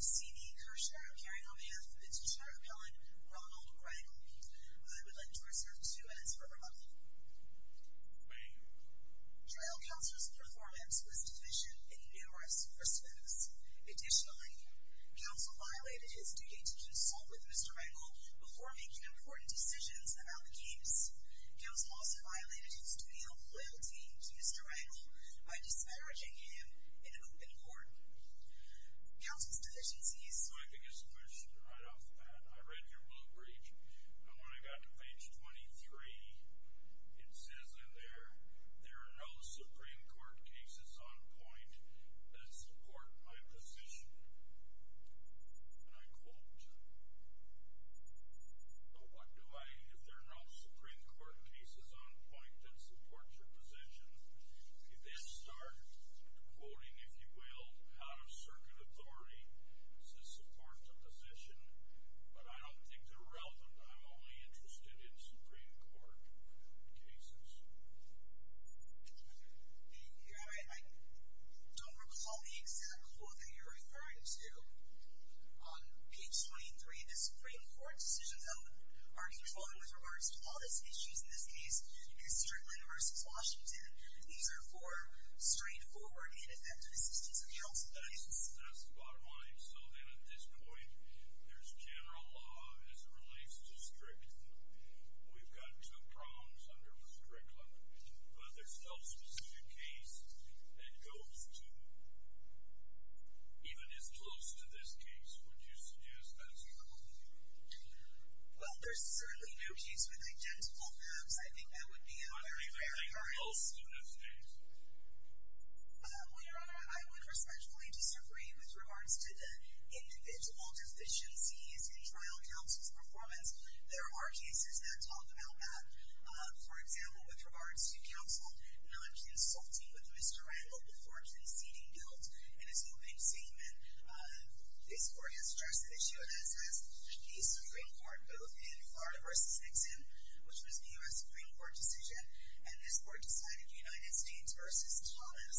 C.V. Kershaw He was also violated in studio loyalty to Mr. Rangel by disparaging him in an open court. Counsel's deficiencies Out-of-circuit authority Says support the position But I don't think they're relevant I'm only interested in Supreme Court Cases Thank you I don't recall The exact quote that you're referring to On page 23 The Supreme Court decisions Are controlled with regards to All these issues in this case And certainly versus Washington These are for straightforward Ineffective decisions of counsel That's the bottom line So then at this point There's general law as it relates to strict We've got two prongs Under the strict level But there's no specific case That goes to Even as close To this case Would you suggest that's true? Well there's certainly no case With identical prongs I think that would be a very rare case What else do you think? Well your honor I would respectfully disagree with regards to Individual deficiencies In trial counsel's performance There are cases that talk about that For example With regards to counsel Non-consulting with Mr. Rangel Before conceding guilt In his opening statement This court has addressed the issue As has the Supreme Court Both in Florida versus Nixon Which was the U.S. Supreme Court decision And this court decided United States versus Thomas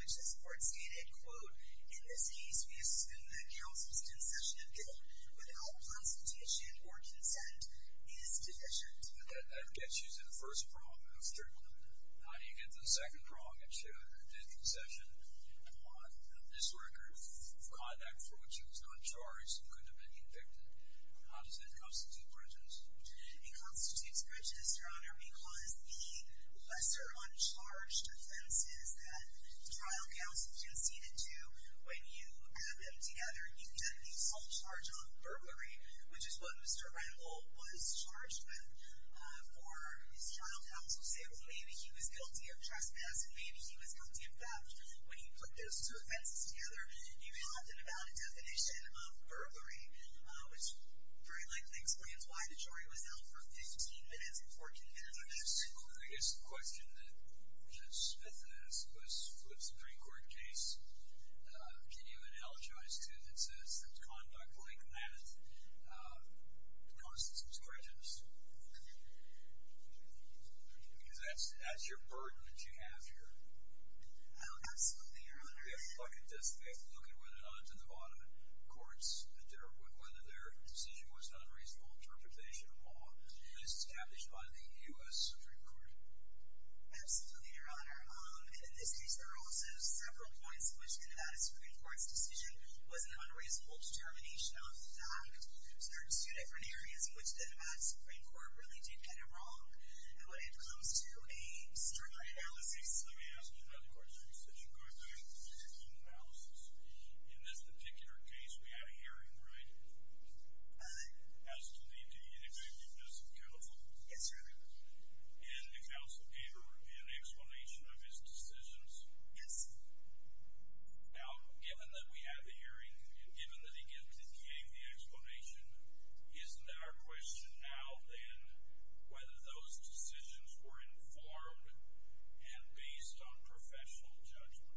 Which this court stated Quote, in this case we assume That counsel's concession of guilt Without consultation or consent Is deficient That gets you to the first prong How do you get to the second prong That you did concession On this record Of conduct for which he was not charged And couldn't have been convicted How does that constitute breaches? It constitutes breaches, your honor Because the lesser Uncharged offenses That trial counsel conceded to When you add them together You get the full charge on Burglary, which is what Mr. Rangel Was charged with For his trial counsel's Able to, maybe he was guilty of trespass And maybe he was guilty of theft When you put those two offenses together You have an amount of definition And an amount of burglary Which very likely explains why the jury Was held for 15 minutes and 14 minutes I guess the question That Smith asked Was with the Supreme Court case Can you analogize To the sense that conduct like that Caused some Scrutiny Because that's your burden that you have here Absolutely, your honor You have a bucket desk You have to look at whether or not the Nevada Courts Whether their decision was an unreasonable Interpretation of law Established by the U.S. Supreme Court Absolutely, your honor In this case there are also several points In which the Nevada Supreme Court's decision Was an unreasonable determination Of the fact There are two different areas in which the Nevada Supreme Court really did get it wrong When it comes to a Strict analysis Yes Let me ask you another question In this particular case We had a hearing, right? Aye As to the inexcusableness of counsel Yes, your honor In the counsel paper In the explanation of his decisions Yes Now, given that we had the hearing And given that he gave the explanation Isn't our question now then Whether those decisions Were informed And based on professional judgment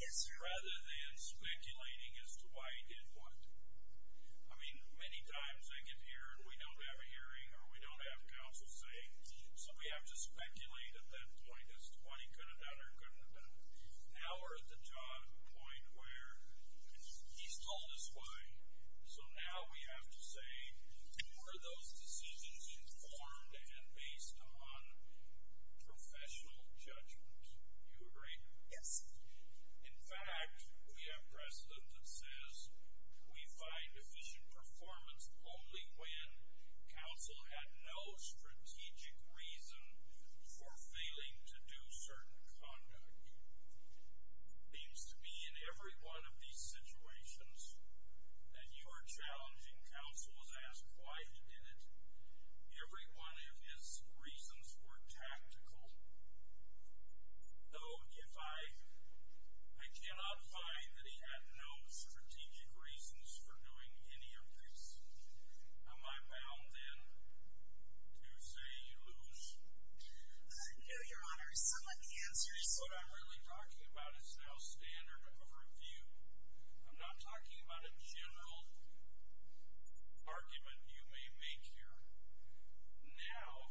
Yes, your honor Rather than speculating As to why he did what I mean, many times I get here And we don't have a hearing Or we don't have counsel saying So we have to speculate at that point As to why he could have done or couldn't have done it Now we're at the point where He's told us why So now we have to say Were those decisions Informed and based on Professional judgment Do you agree? Yes In fact, we have precedent that says We find efficient performance Only when Counsel had no strategic Reason for Failing to do certain conduct Seems to be in every one of these Situations That you are challenging counsel Was asked why he did it Every one of his Reasons were tactical Though If I Cannot find that he had no Strategic reasons for doing Any of this Am I bound then To say you lose? No, your honor Some of the answers What I'm really talking about is now standard of review I'm not talking about in general Any single Argument you may make here Now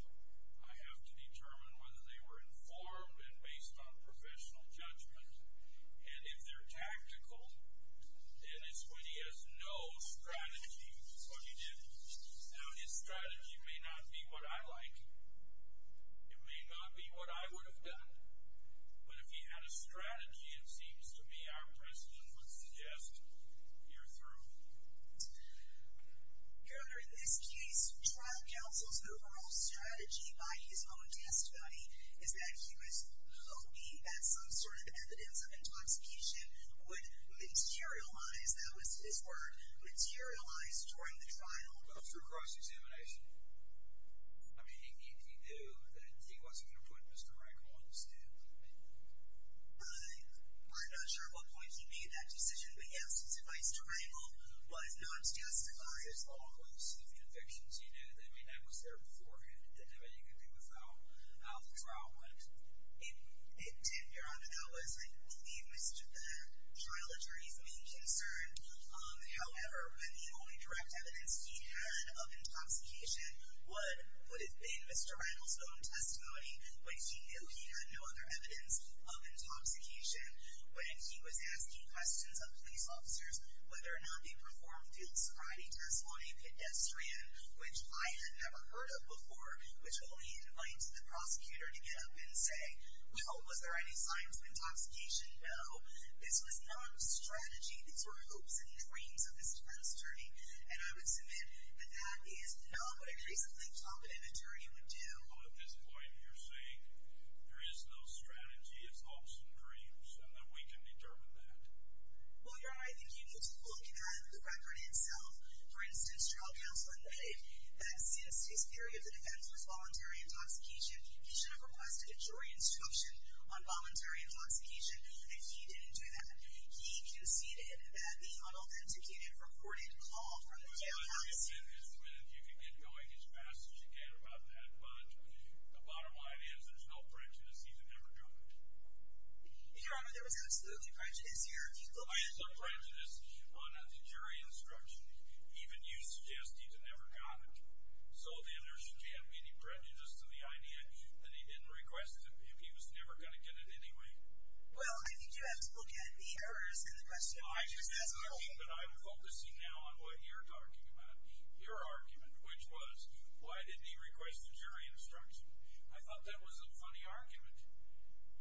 I have to determine whether they were Informed and based on professional Judgment And if they're tactical Then it's when he has no Strategy for what he did Now his strategy may not be What I like It may not be what I would have done But if he had a strategy It seems to me our precedent Would suggest Year through Your honor, in this case Trial counsel's overall strategy By his own testimony Is that he was hoping That some sort of evidence of intoxication Would materialize That was his word Materialize during the trial But through cross-examination I mean, if he knew Then he wasn't going to put Mr. Reckon On the stand I I'm not sure what point he made that decision But yes, his advice to Reynolds Was not justified As long as the convictions you knew That may not have been there before Had anything to do with how the trial went It did, your honor That was I believe The trial attorney's main concern However, when the only Direct evidence he had of Intoxication would Have been Mr. Reynolds' own testimony But he knew he had no other evidence Of intoxication When he was asking questions of police officers Whether or not they performed Field sobriety testimony Pedestrian, which I had never heard of Before, which only invites The prosecutor to get up and say Well, was there any signs of intoxication? No, this was not A strategy, these were hopes and dreams Of this defense attorney And I would submit that that is Not what a reasonably competent attorney Would do Well, at this point, you're saying There is no strategy, it's hopes and dreams And that we can determine that Well, your honor, I think you need to look At the record itself For instance, trial counsel admitted That since his theory of the defense Was voluntary intoxication He should have requested a jury instruction On voluntary intoxication And he didn't do that He conceded that the unauthenticated Reported call from the jailhouse I would submit if you could get going As fast as you can about that But the bottom line is There's no prejudice, he's never done it Your honor, there was absolutely prejudice I assert prejudice On the jury instruction Even you suggest he's never done it So then there should be Any prejudice to the idea That he didn't request it If he was never going to get it anyway Well, I think you have to look at the errors And the question of prejudice as a whole But I'm focusing now on what you're talking about Your argument Which was, why didn't he request The jury instruction I thought that was a funny argument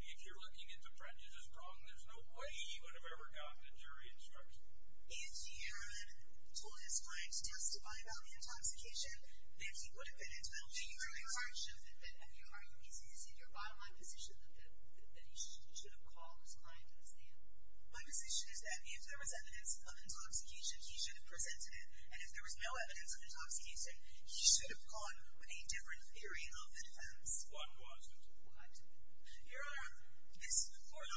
If you're looking at the prejudice as a problem There's no way he would have ever gotten The jury instruction If he had told his client to testify About the intoxication Then he would have been entitled to a jury Your argument is Your bottom line position That he should have called his client My position is that If there was evidence of intoxication He should have presented it And if there was no evidence of intoxication He should have gone with a different theory of defense What was it? What? Your honor, this court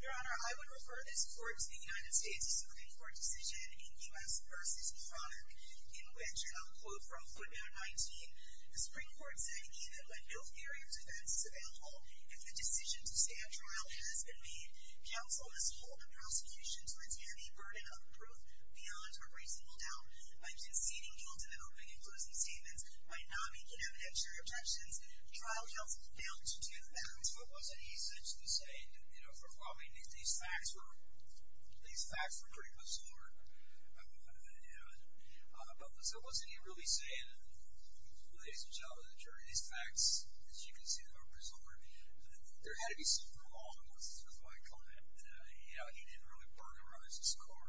Your honor, I would refer This court to the United States Supreme Court Decision in U.S. v. In which, I'll quote from The Supreme Court said Even when no theory of defense is available If the decision to stand trial has been made Counsel must hold the prosecution To its heavy burden of proof Beyond a reasonable doubt By conceding guilt in the opening and closing statements By not making evident your objections Trial counsel failed to do that But wasn't he essentially saying You know, well I mean These facts were These facts were pretty much stored You know But wasn't he really saying Ladies and gentlemen These facts, as you can see Are preserved There had to be something wrong with my client You know, he didn't really burglarize his car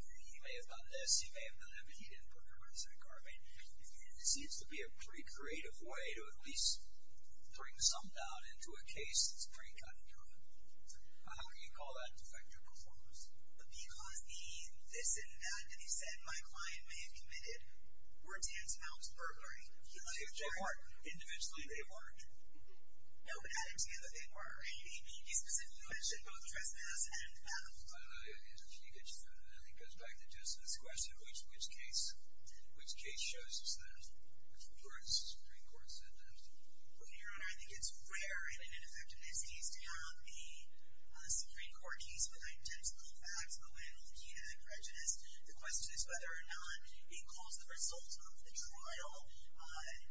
He may have done this He may have done that But he didn't burglarize that car I mean, it seems to be a pretty creative way To at least bring some doubt Into a case that's pretty cut and dry How can you call that Defective performance? But because the this and that That he said my client may have committed Were dense amounts of burglary If you look at the car Individually they weren't No, but added together they were He specifically mentioned both trespass and theft I don't know if he gets you there I think it goes back to just this question Which case Which case shows us that Which reports Supreme Court sentence Well, Your Honor, I think it's rare in an ineffectiveness case To have the Supreme Court case with identical facts But when looking at the prejudice The question is whether or not It caused the result of the trial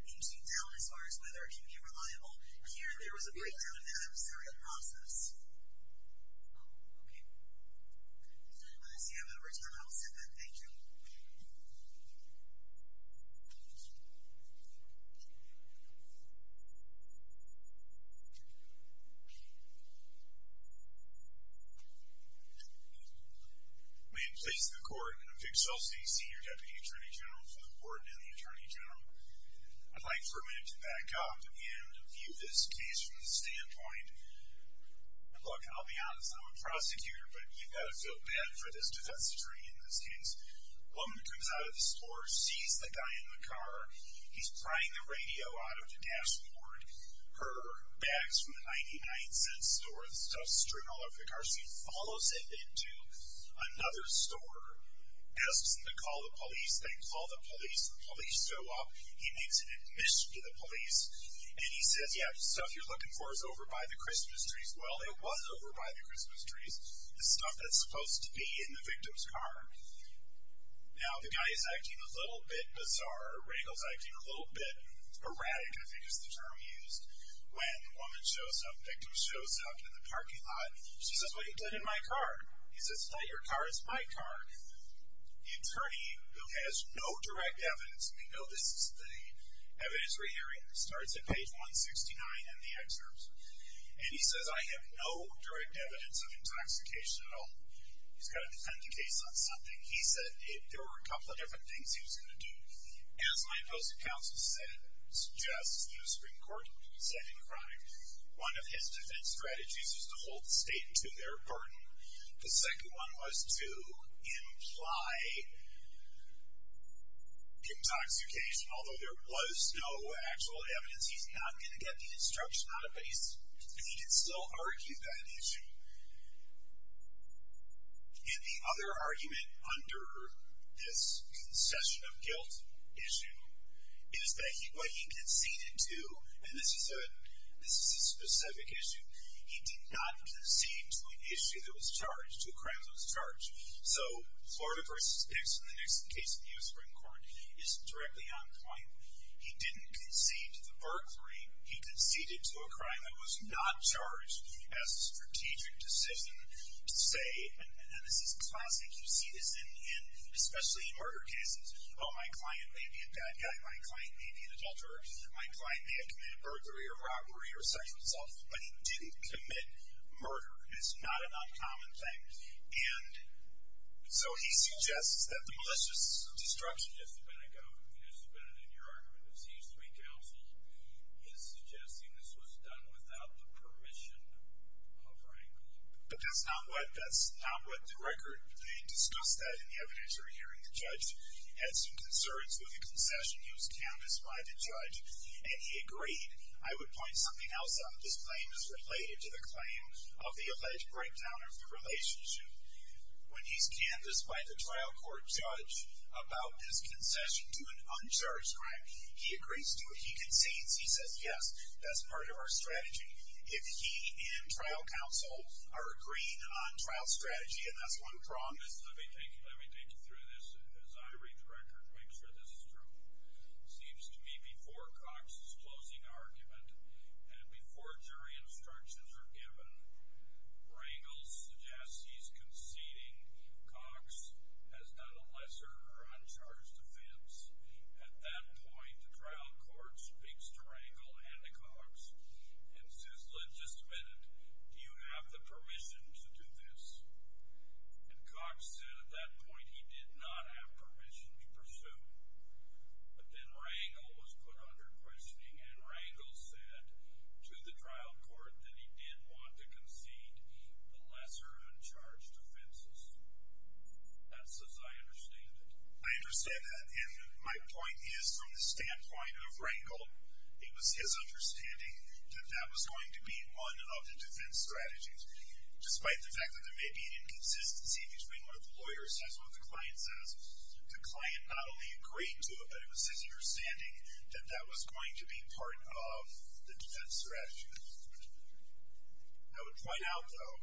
Into doubt as far as whether It can be reliable Here there was a breakdown of the adversarial process Oh, okay I see I'm out of time I'll send that, thank you May it please the court I'm Vic Solsey, Senior Deputy Attorney General For the Court and the Attorney General I'd like for a minute to back up And view this case from the standpoint Look, I'll be honest I'm a prosecutor But you've got to feel bad for this defense attorney In this case A woman comes out of the store Sees the guy in the car He's prying the radio out of the dashboard Her bag's from the 99 cent store The stuff's strewn all over the car She follows him into another store Asks him to call the police They call the police The police show up He makes an admission to the police And he says, yeah, the stuff you're looking for Is over by the Christmas trees Well, it was over by the Christmas trees The stuff that's supposed to be in the victim's car Now the guy is acting A little bit bizarre Regal's acting a little bit erratic I think is the term used When the woman shows up, the victim shows up In the parking lot She says, what you did in my car He says, no, your car is my car The attorney, who has no direct evidence And we know this is the Evidence Rehearing Starts at page 169 in the excerpts And he says, I have no direct evidence Of intoxication at all He's got to defend the case on something He said, there were a couple of different things He was going to do As my post of counsel said Suggests in the Supreme Court Second crime One of his defense strategies Was to hold the state to their burden The second one was to Imply Intoxication Although there was no actual evidence He's not going to get the instruction Out of base And he did still argue that issue And the other argument under This concession of guilt Issue Is that what he conceded to And this is a This is a specific issue He did not concede to an issue That was charged, two crimes that was charged So Florida vs. Nixon The next case in the US Supreme Court Is directly on point He didn't concede to the burglary He conceded to a crime that was not Charged as a strategic Decision to say And this is classic, you see this In especially murder cases Oh my client may be a bad guy My client may be an adulterer My client may have committed burglary or robbery Or sexual assault, but he didn't commit Murder, it's not an uncommon thing And So he suggests that the malicious Destruction It's been a go, it's been in your argument He used to be counsel He's suggesting this was done without the Permission of rank But that's not what The record, they discussed that The evidence you're hearing, the judge Had some concerns with the concession He was canvassed by the judge And he agreed, I would point something else out This claim is related to the claim Of the alleged breakdown of the Relationship When he's canvassed by the trial court judge About this concession To an uncharged crime He agrees to it, he concedes, he says yes That's part of our strategy If he and trial counsel Are agreeing on trial strategy And that's one promise Let me take you through this as I read the record To make sure this is true Seems to me before Cox's closing Argument And before jury instructions are given Rangel suggests He's conceding Cox has done a lesser Or uncharged offense At that point, the trial court Speaks to Rangel and to Cox And says Just a minute, do you have the permission To do this And Cox said at that point He did not have permission to pursue But then Rangel Was put under questioning And Rangel said to the trial Court that he did want to concede The lesser uncharged Offenses That's as I understand it I understand that and my point Is from the standpoint of Rangel It was his understanding That that was going to be one of The defense strategies Despite the fact that there may be an inconsistency Between what the lawyer says and what the client says The client not only agreed To it but it was his understanding That that was going to be part of The defense strategy I would point out Though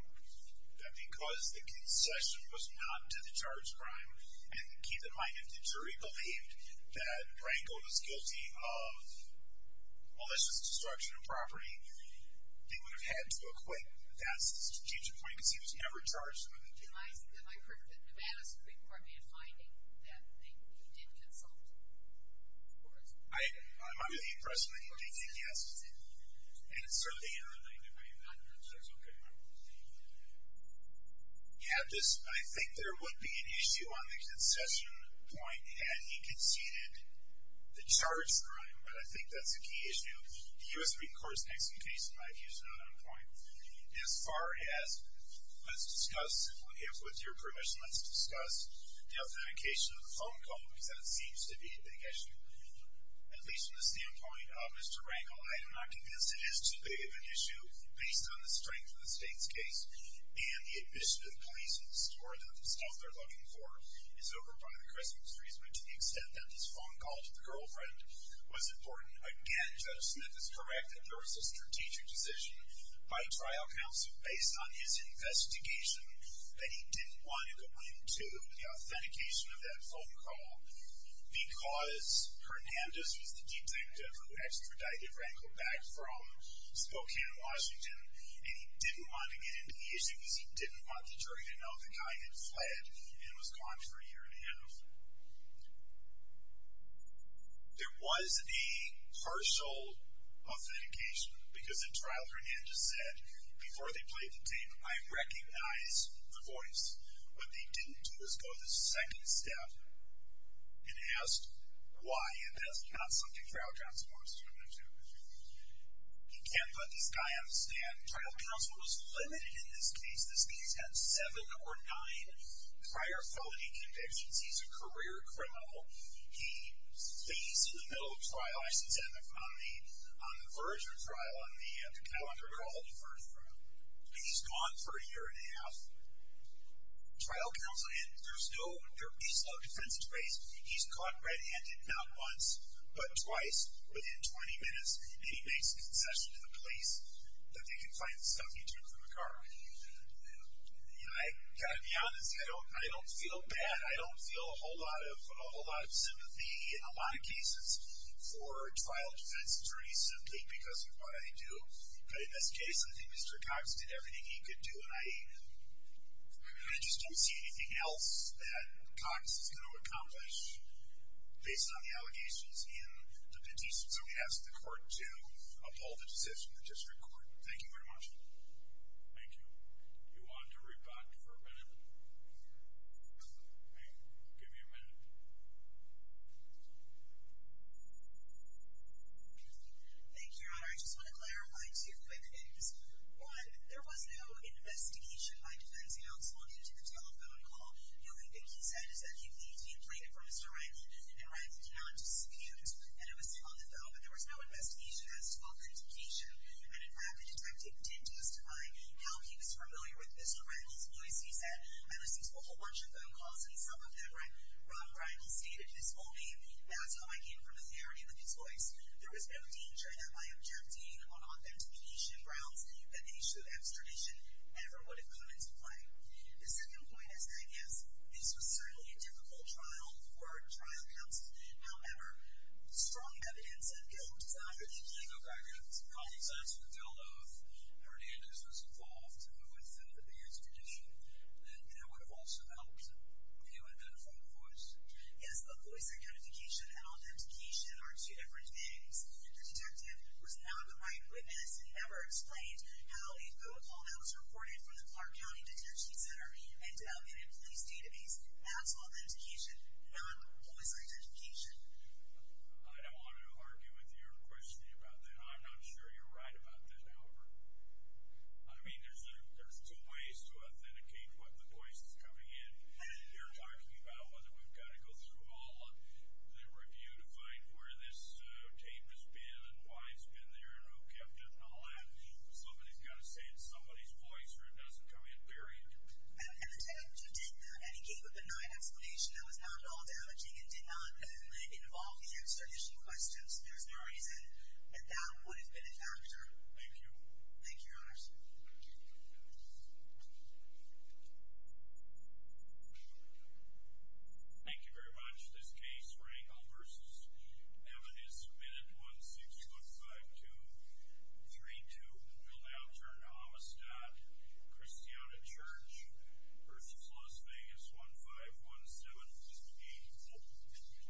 that because The concession was not to the charged Crime and keep in mind If the jury believed that Rangel was guilty of Malicious destruction of property They would have had to acquit That's the strategic point Because he was never charged Have I heard that Nevada Supreme Court May have finding that he did consult I'm not really impressed With it And certainly I think there would be an issue On the concession point Had he conceded The charged crime but I think that's a key issue The U.S. Supreme Court's next in case Might use another point As far as Let's discuss if with your permission Let's discuss the authentication Of the phone call because that seems to be The issue At least from the standpoint of Mr. Rangel I am not convinced it is too big of an issue Based on the strength of the state's case And the admission of the police In the store that the stuff they're looking for Is over by the Christmas tree To the extent that this phone call to the girlfriend Was important Again Judge Smith is correct That there was a strategic decision Based on his investigation That he didn't want to go into The authentication of that phone call Because Hernandez was the detective Who extradited Rangel back from Spokane, Washington And he didn't want to get into the issue Because he didn't want the jury to know The guy had fled And was gone for a year and a half So There was The partial authentication Because in trial Hernandez Said before they played the tape I recognize the voice What they didn't do was go The second step And asked why And that's not something trial Johnson wants to do He can't Put this guy on the stand Trial counsel was limited in this case This case had seven or nine Prior felony convictions He's a career criminal He fades to the middle of trial I sent him on the Verger trial on the calendar Called Verger He's gone for a year and a half Trial counsel There's no defense He's caught red handed not once But twice within 20 minutes And he makes a concession to the police That they can find the stuff He took from the car You know I got to be honest I don't feel bad I don't feel a whole lot of sympathy In a lot of cases For trial defense attorneys Simply because of what I do But in this case I think Mr. Cox Did everything he could do And I just don't see anything else That Cox is going to accomplish Based on the allegations In the petition So we ask the court to uphold the decision Thank you very much Thank you Do you want to rebut for a minute? Hey Give me a minute Thank you your honor I just want to clarify two quick things One, there was no investigation by defense counsel Into the telephone call The only thing he said is that he pleaded For Mr. Riley And Riley did not disappear And it was still on the phone But there was no investigation as to authentication And in fact the detective did justify How he was familiar with Mr. Riley's voice He said, I listened to a whole bunch of phone calls And some of them Robert Riley stated his whole name That's how I came to familiarity with his voice There was no danger that by objecting On authentication grounds That the issue of extradition Ever would have come into play The second point is, I guess This was certainly a difficult trial For a trial counsel However, strong evidence And good evidence I apologize for the deal though If Hernandez was involved With the extradition That would have also helped He would have been a phone voice Yes, a voice identification and authentication Are two different things The detective was not the right witness And never explained how a phone call That was recorded from the Clark County Detention Center Ended up in a police database That's authentication Not voice identification I don't want to argue with you Or question you about that I'm not sure you're right about that I mean, there's two ways To authenticate what the voice is coming in You're talking about Whether we've got to go through all The review to find where this Tape has been and why it's been there And who kept it and all that Somebody's got to say it's somebody's voice Or it doesn't come in, period And the detective did that And he gave a benign explanation That was not at all damaging And did not involve the extradition questions There's no reason that that would have been a factor Thank you Thank you, your honors Thank you very much This case, Rangel v. Hernandez Submitted on 1615232 Will now turn to Amistad Christiana Church Versus Las Vegas 1517